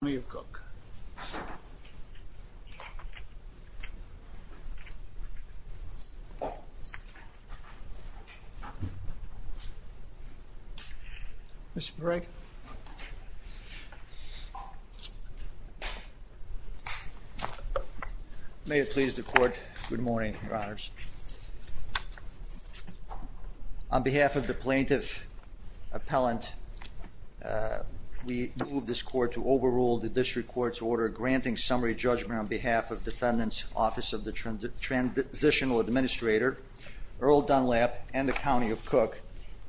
May it please the Court, good morning, Your Honors. On behalf of the plaintiff appellant we move this court to overrule the district courts order granting summary judgment on behalf of defendants office of the transitional administrator Earl Dunlap and the County of Cook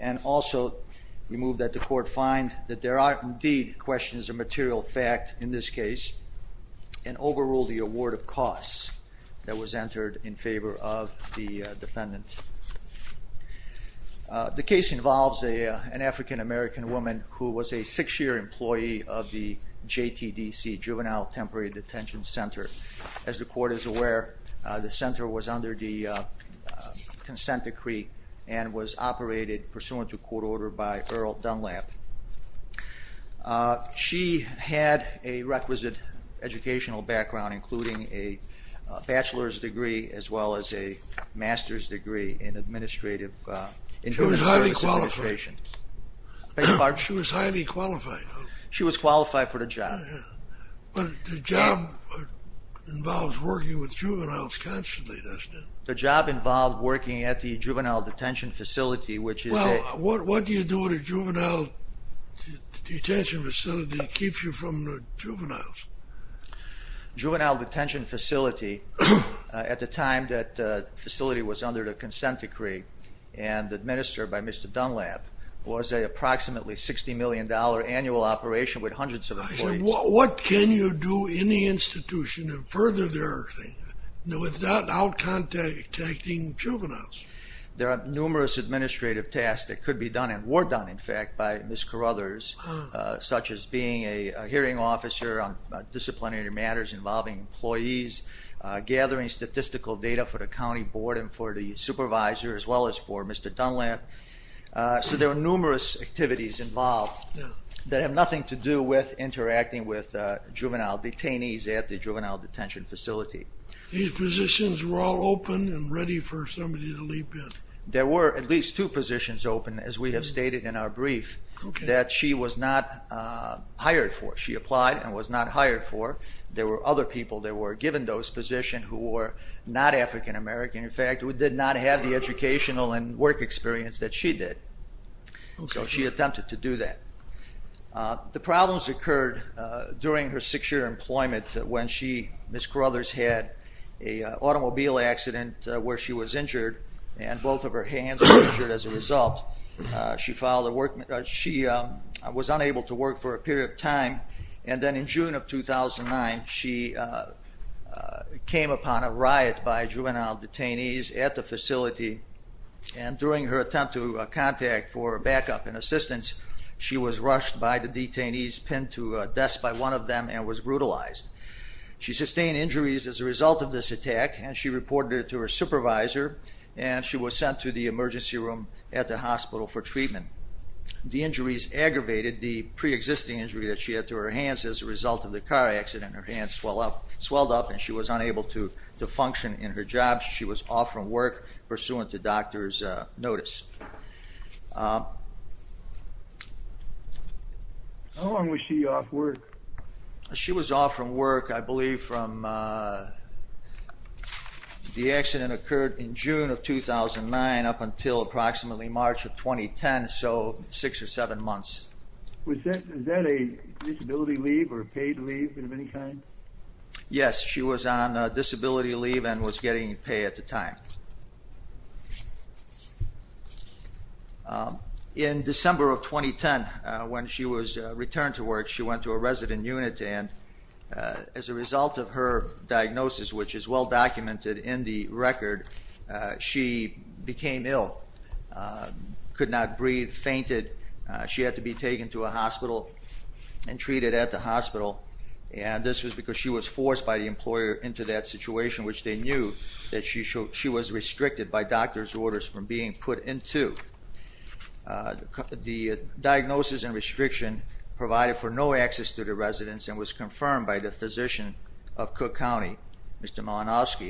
and also we move that the court find that there are indeed questions of material fact in this case and overrule the award of costs that was entered in favor of the defendant. The case involves a an African-American woman who was a six year employee of the JTDC Juvenile Temporary Detention Center. As the court is aware the center was under the consent decree and was operated pursuant to court order by Earl Dunlap. She had a requisite educational background including a bachelor's degree as well as a master's degree in administrative... She was highly qualified. She was qualified for the job. But the job involves working with juveniles constantly doesn't it? The job involved working at the juvenile detention facility which is... Well what do you do at a juvenile detention facility to keep you from the juveniles? Juvenile detention facility at the time that facility was under the consent decree and administered by Mr. Dunlap was a approximately 60 million dollar annual operation with hundreds of employees. What can you do in the institution and further their thing without out contacting juveniles? There are numerous administrative tasks that could be done and were done in fact by Ms. Carruthers such as being a hearing officer on disciplinary matters involving employees, gathering statistical data for the county board and for the supervisor as well as for Mr. Dunlap. So there are numerous activities involved that have nothing to do with interacting with juvenile detainees at the juvenile detention facility. These positions were all open and ready for somebody to leap in? There were at least two positions open as we have stated in our brief that she was not hired for. She applied and was not hired for. There were other people that were given those positions who were not African-American. In fact we did not have the educational and work experience that she did. So she attempted to do that. The problems occurred during her six-year employment when she, Ms. Carruthers, had a hand injured as a result. She was unable to work for a period of time and then in June of 2009 she came upon a riot by juvenile detainees at the facility and during her attempt to contact for backup and assistance she was rushed by the detainees pinned to a desk by one of them and was brutalized. She sustained injuries as a result of this attack and she reported it to her emergency room at the hospital for treatment. The injuries aggravated the pre-existing injury that she had to her hands as a result of the car accident. Her hands swelled up and she was unable to to function in her job. She was off from work pursuant to doctor's notice. How long was she off work? She was off from work I believe from the accident occurred in June of 2009 up until approximately March of 2010, so six or seven months. Was that a disability leave or paid leave of any kind? Yes, she was on disability leave and was getting paid at the time. In December of 2010 when she was returned to work she went to a resident unit and as a result of her documented in the record she became ill, could not breathe, fainted. She had to be taken to a hospital and treated at the hospital and this was because she was forced by the employer into that situation which they knew that she was restricted by doctor's orders from being put into. The diagnosis and restriction provided for no access to the residents and was confirmed by the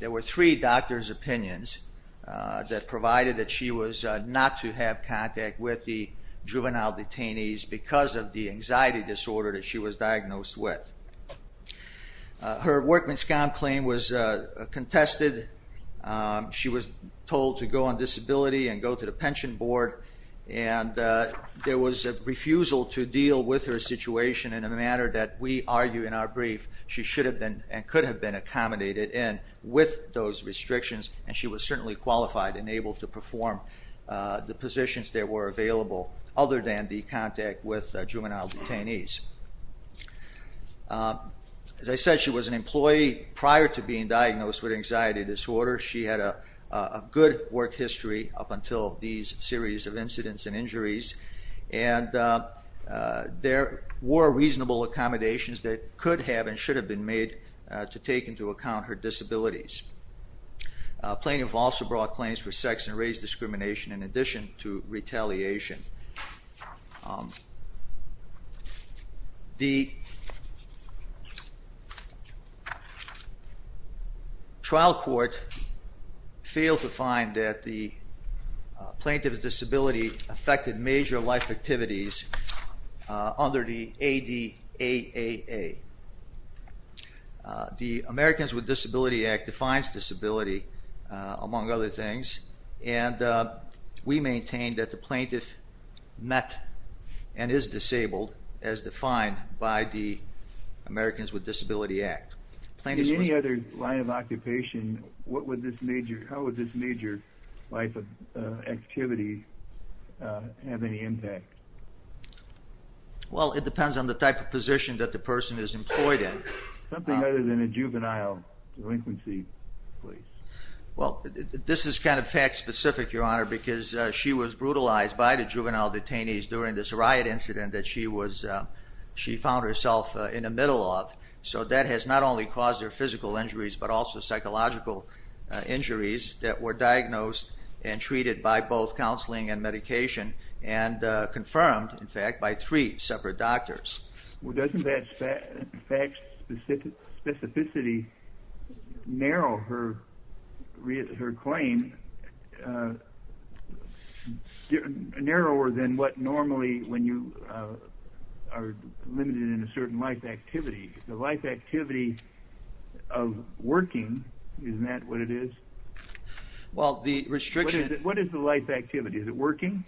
There were three doctor's opinions that provided that she was not to have contact with the juvenile detainees because of the anxiety disorder that she was diagnosed with. Her workman's comp claim was contested. She was told to go on disability and go to the pension board and there was a refusal to deal with her situation in a manner that we argue in our brief she should have been and could have been accommodated in with those restrictions and she was certainly qualified and able to perform the positions that were available other than the contact with juvenile detainees. As I said she was an employee prior to being diagnosed with anxiety disorder. She had a good work history up until these series of incidents and injuries and there were reasonable accommodations that could have and should have been made to take into account her disabilities. Plaintiff also brought claims for sex and race discrimination in addition to retaliation. The trial court failed to find that the plaintiff's disability affected major life activities under the ADAAA. The Americans with Disability Act defines disability among other things and we maintain that the plaintiff met and is disabled as defined by the Americans with Disability Act. In any other line of occupation what would this major how would this major life of activity have any impact? Well it depends on the type of position that the person is employed in. Something other than a juvenile delinquency please. Well this is kind of fact-specific your honor because she was brutalized by the juvenile detainees during this riot incident that she was she found herself in the middle of so that has not only caused her physical injuries but also psychological injuries that were diagnosed and treated by both counseling and medication and confirmed in fact by three separate doctors. Well doesn't that fact specificity narrow her claim narrower than what normally when you are limited in a certain life activity the life activity of working isn't that what it is? Well the restriction. What is the life activity? Is it working?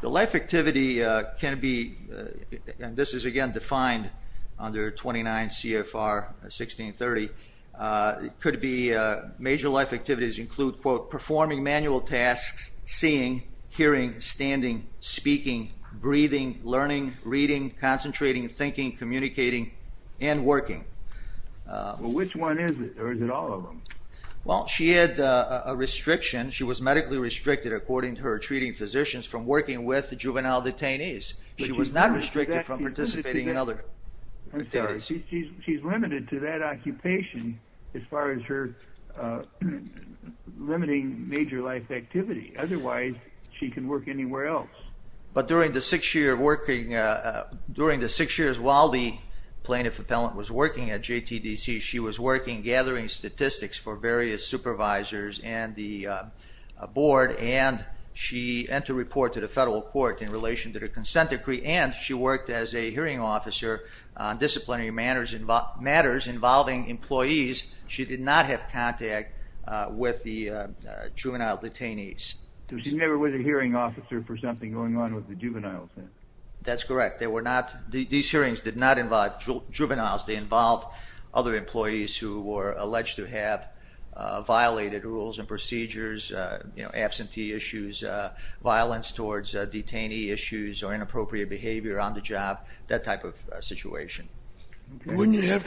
The life activity can be and this is again defined under 29 CFR 1630. It could be major life activities include quote performing manual tasks, seeing, hearing, standing, speaking, breathing, learning, reading, concentrating, thinking, communicating and working. Well which one is it or is it all of them? Well she had a restriction she was medically restricted according to her treating physicians from working with the juvenile detainees. She was not restricted from participating in other activities. She's limited to that occupation as far as her limiting major life activity otherwise she can work anywhere else. But during the six year of working during the six years while the plaintiff appellant was working at JTDC she was working gathering statistics for various supervisors and the board and she had to report to the federal court in relation to the consent decree and she worked as a hearing officer disciplinary matters involving employees. She did not have contact with the juvenile detainees. She never was a hearing officer for something going on with the juveniles? That's correct they were not these hearings did not involve juveniles they involved other employees who were alleged to have violated rules and procedures you know absentee issues violence towards detainee issues or you have to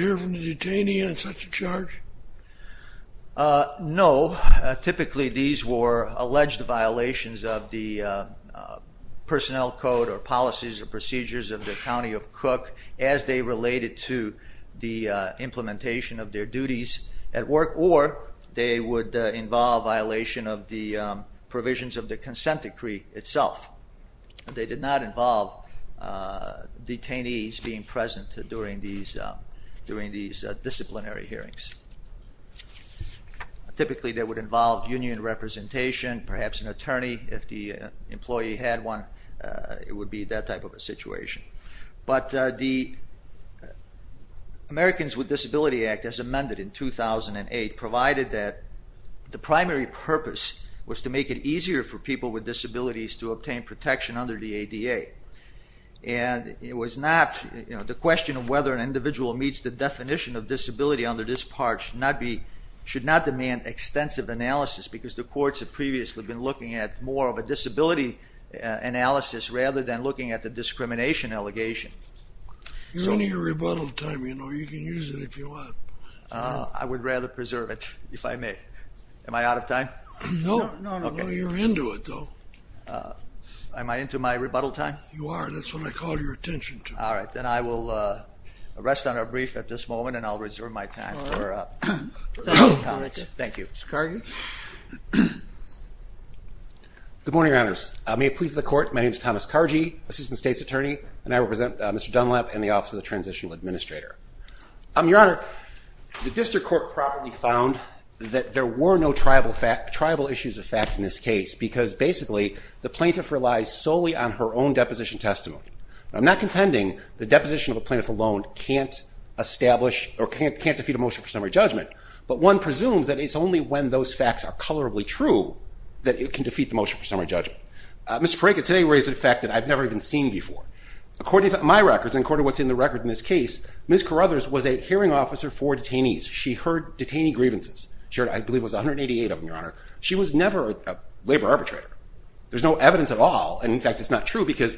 hear from the detainee on such a charge? No typically these were alleged violations of the personnel code or policies or procedures of the County of Cook as they related to the implementation of their duties at work or they would involve violation of the provisions of the consent decree itself. They did not involve detainees being present during these disciplinary hearings. Typically that would involve union representation perhaps an attorney if the employee had one it would be that type of a situation. But the Americans with Disability Act as amended in 2008 provided that the primary purpose was to make it easier for people with disabilities to obtain protection under the ADA and it was not you know the question of whether an individual meets the definition of disability under this part should not be should not demand extensive analysis because the courts have previously been looking at more of a disability analysis rather than looking at the discrimination allegation. You're running your rebuttal time you know you can use it if you want. I would rather preserve it if I may. Am I out of time? No, no you're into it Am I into my rebuttal time? You are that's what I call your attention to. All right then I will rest on a brief at this moment and I'll reserve my time for comments. Thank you. Mr. Cargi? Good morning Your Honors. May it please the court my name is Thomas Cargi Assistant State's Attorney and I represent Mr. Dunlap and the Office of the Transitional Administrator. Your Honor, the district court properly found that there were no tribal issues of fact in this case because basically the plaintiff relies solely on her own deposition testimony. I'm not contending the deposition of a plaintiff alone can't establish or can't can't defeat a motion for summary judgment but one presumes that it's only when those facts are colorably true that it can defeat the motion for summary judgment. Mr. Paraka today raised a fact that I've never even seen before. According to my records and according to what's in the record in this case, Ms. Carruthers was a hearing officer for detainees. She heard detainee grievances. She heard I believe was 188 of them, Your Honor. She was never a labor arbitrator. There's no evidence at all and in fact it's not true because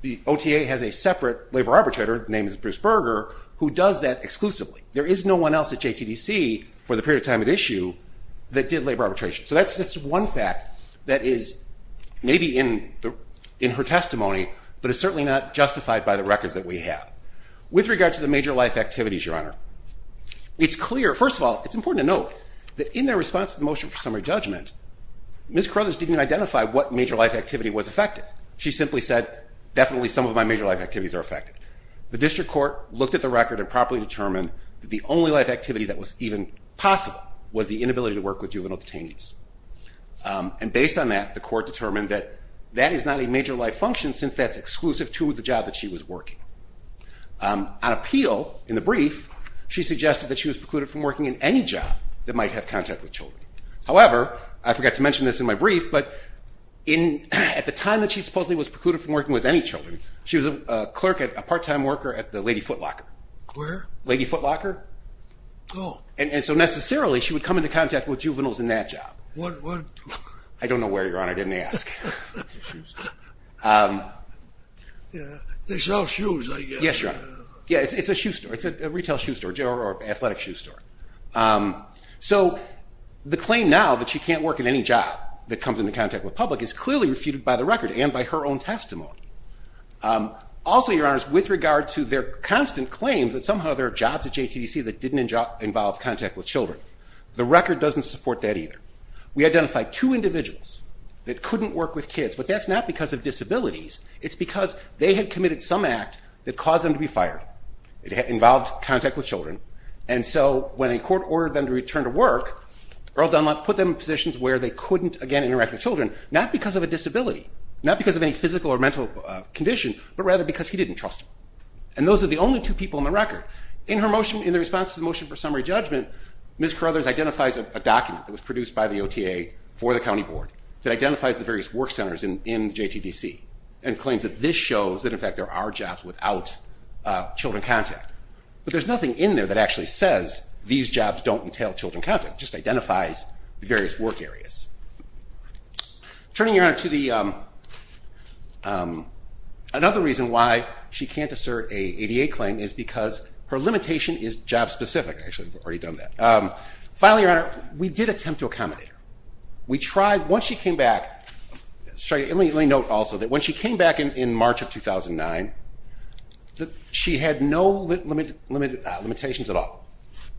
the OTA has a separate labor arbitrator named Bruce Berger who does that exclusively. There is no one else at JTDC for the period of time at issue that did labor arbitration. So that's just one fact that is maybe in in her testimony but it's certainly not justified by the records that we have. With regard to the major life activities, Your Honor, it's important to note that in their response to the motion for summary judgment, Ms. Carruthers didn't identify what major life activity was affected. She simply said definitely some of my major life activities are affected. The district court looked at the record and properly determined that the only life activity that was even possible was the inability to work with juvenile detainees. And based on that, the court determined that that is not a major life function since that's exclusive to the job that she was working. On appeal, in working in any job that might have contact with children. However, I forgot to mention this in my brief, but in at the time that she supposedly was precluded from working with any children, she was a clerk at a part-time worker at the Lady Foot Locker. Where? Lady Foot Locker. Oh. And so necessarily she would come into contact with juveniles in that job. What, what? I don't know where, Your Honor. I didn't ask. They sell shoes. Yes, Your Honor. Yeah, it's a shoe store. It's a athletic shoe store. So the claim now that she can't work in any job that comes into contact with public is clearly refuted by the record and by her own testimony. Also, Your Honor, with regard to their constant claims that somehow there are jobs at JTDC that didn't involve contact with children, the record doesn't support that either. We identified two individuals that couldn't work with kids, but that's not because of disabilities. It's because they had committed some act that caused them to be fired. It involved contact with children, and so when a court ordered them to return to work, Earl Dunlap put them in positions where they couldn't, again, interact with children, not because of a disability, not because of any physical or mental condition, but rather because he didn't trust them. And those are the only two people in the record. In her motion, in the response to the motion for summary judgment, Ms. Carothers identifies a document that was produced by the OTA for the County Board that identifies the various work centers in JTDC and claims that this shows that there are jobs without children contact. But there's nothing in there that actually says these jobs don't entail children contact. It just identifies the various work areas. Turning, Your Honor, to another reason why she can't assert a ADA claim is because her limitation is job-specific. Actually, we've already done that. Finally, Your Honor, we did attempt to accommodate her. We tried, once she came back, let me note also that when she came back in March of 2009, she had no limitations at all.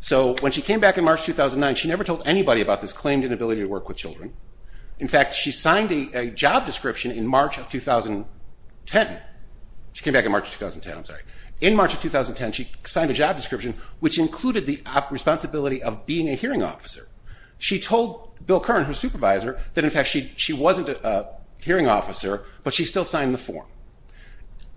So when she came back in March 2009, she never told anybody about this claimed inability to work with children. In fact, she signed a job description in March of 2010. She came back in March of 2010, I'm sorry. In March of 2010, she signed a job description which included the responsibility of being a hearing officer. She told Bill Kern, her hearing officer, but she still signed the form.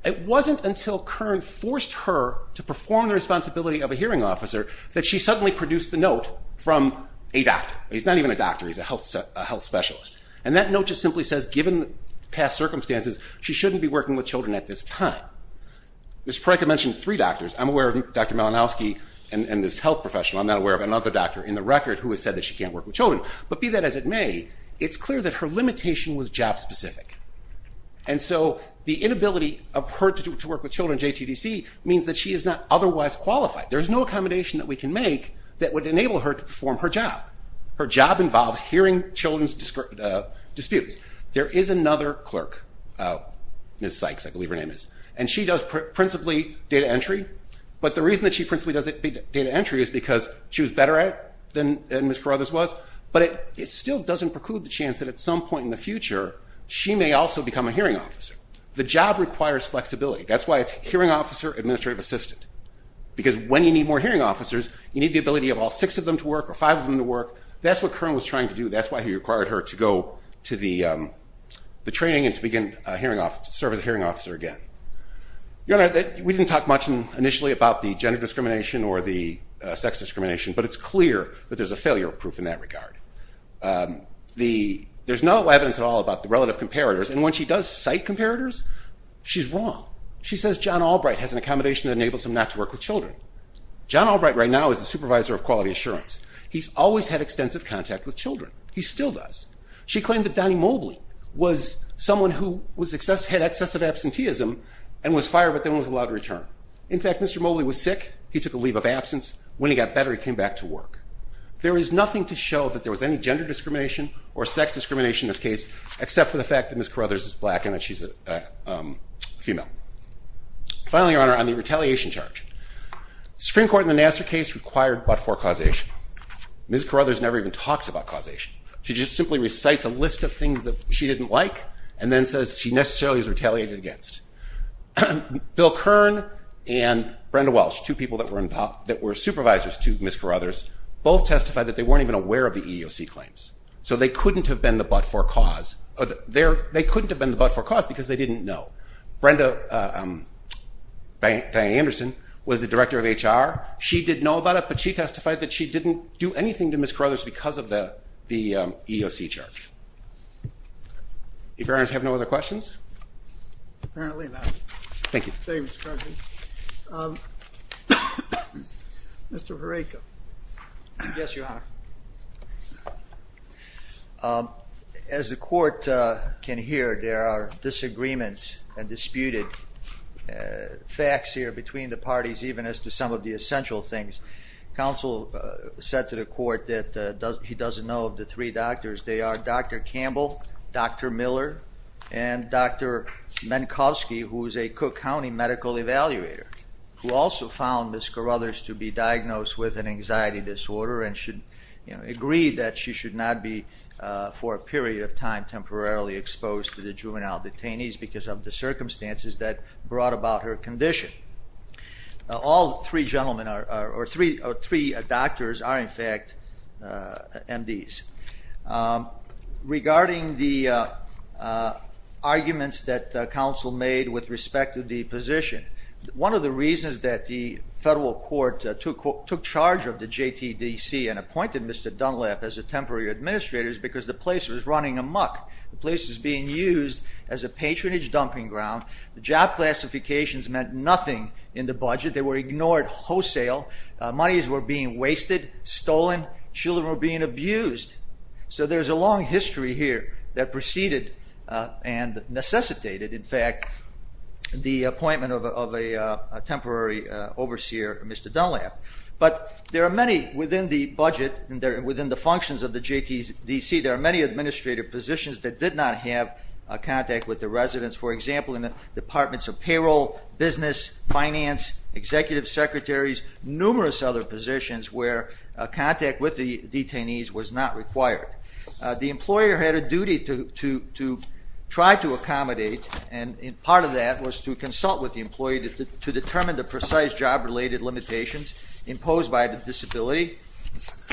It wasn't until Kern forced her to perform the responsibility of a hearing officer that she suddenly produced the note from a doctor. He's not even a doctor, he's a health specialist. And that note just simply says, given past circumstances, she shouldn't be working with children at this time. Ms. Parekh had mentioned three doctors. I'm aware of Dr. Malinowski and this health professional. I'm not aware of another doctor in the record who has said that she can't work with children. But be that as it may, it's clear that her limitation was job specific. And so the inability of her to work with children, JTDC, means that she is not otherwise qualified. There's no accommodation that we can make that would enable her to perform her job. Her job involves hearing children's disputes. There is another clerk, Ms. Sykes, I believe her name is, and she does principally data entry. But the reason that she principally does data entry is because she was better at it than Ms. Carruthers was. But it still doesn't preclude the chance that at some point in the future, she may also become a hearing officer. The job requires flexibility. That's why it's hearing officer, administrative assistant. Because when you need more hearing officers, you need the ability of all six of them to work or five of them to work. That's what Kern was trying to do. That's why he required her to go to the training and to begin to serve as a hearing officer again. We didn't talk much initially about the gender discrimination or the sex discrimination, but it's clear that there's a failure proof in that regard. There's no evidence at all about the relative comparators, and when she does cite comparators, she's wrong. She says John Albright has an accommodation that enables him not to work with children. John Albright right now is the supervisor of quality assurance. He's always had extensive contact with children. He still does. She claimed that Donnie Mobley was someone who had excessive absenteeism and was fired but then was allowed to return. In fact, Mr. Mobley was sick. He took a leave of absence. When he got better, he came back to work. There is nothing to show that there was any gender discrimination or sex discrimination in this case except for the fact that Ms. Carruthers is black and that she's a female. Finally, Your Honor, on the retaliation charge. Supreme Court in the Nassar case required but-for causation. Ms. Carruthers never even talks about causation. She just simply recites a list of things that she didn't like and then says she necessarily was retaliated against. Bill Kern and Brenda Welsh, two people that were supervisors to Ms. Carruthers, both testified that they weren't even aware of the EEOC claims. So they couldn't have been the but-for cause. They couldn't have been the but-for cause because they didn't know. Brenda Anderson was the director of HR. She didn't know about it but she testified that she didn't do anything to Ms. Carruthers because of the EEOC charge. If Your Honors have no other questions? Thank you. Mr. Vareka. Yes, Your Honor. As the court can hear, there are disagreements and disputed facts here between the parties even as to some of the essential things. Counsel said to the court that he doesn't know of the three doctors. They are Dr. Campbell, Dr. Miller, and Dr. Minkowski, who is a Cook County medical evaluator, who also found Ms. Carruthers to be diagnosed with an anxiety disorder and agreed that she should not be, for a period of time, temporarily exposed to the juvenile detainees because of the circumstances that brought about her condition. All three gentlemen, or three doctors, are in fact MDs. Regarding the arguments that counsel made with respect to the position, one of the reasons that the federal court took charge of the JTDC and appointed Mr. Dunlap as a temporary administrator is because the place was running amok. The place was being used as a patronage dumping ground. The job classifications meant nothing in the budget. They were ignored wholesale. Monies were being wasted, stolen. Children were being abused. So there's a long history here that preceded and necessitated, in fact, the appointment of a temporary overseer, Mr. Dunlap. But there are many within the budget and within the functions of the JTDC, there are many administrative positions that did not have a contact with the residents. For example, finance, executive secretaries, numerous other positions where contact with the detainees was not required. The employer had a duty to try to accommodate, and part of that was to consult with the employee to determine the precise job-related limitations imposed by the disability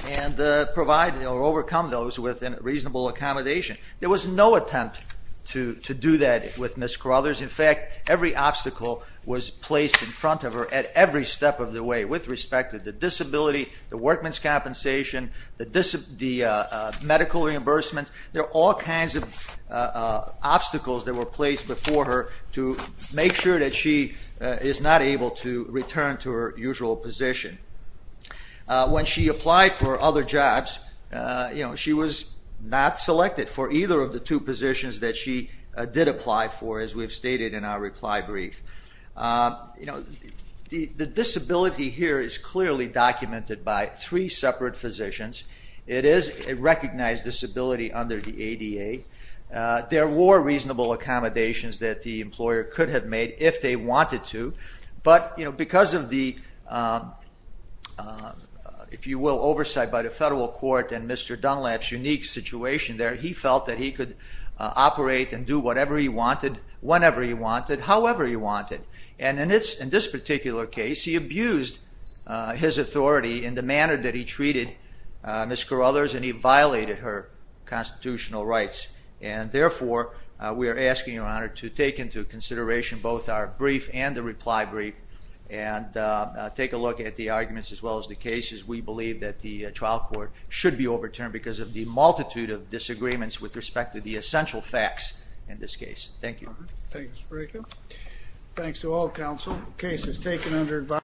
and provide or overcome those with a reasonable accommodation. There was no attempt to do that with Ms. Crothers. In fact, every obstacle was placed in front of her at every step of the way with respect to the disability, the workman's compensation, the medical reimbursement. There are all kinds of obstacles that were placed before her to make sure that she is not able to return to her usual position. When she applied for other jobs, you know, she was not selected for either of the two positions that she did apply for, as we have stated in our reply brief. The disability here is clearly documented by three separate physicians. It is a recognized disability under the ADA. There were reasonable accommodations that the employer could have made if they wanted to, but because of the, if you will, oversight by the situation there, he felt that he could operate and do whatever he wanted whenever he wanted, however he wanted. And in this particular case, he abused his authority in the manner that he treated Ms. Crothers, and he violated her constitutional rights. And therefore, we are asking your Honor to take into consideration both our brief and the reply brief and take a look at the arguments as well as the cases. We believe that the trial court should be a multitude of disagreements with respect to the essential facts in this case. Thank you. Thanks, Reiko. Thanks to all counsel. The case is taken under advice.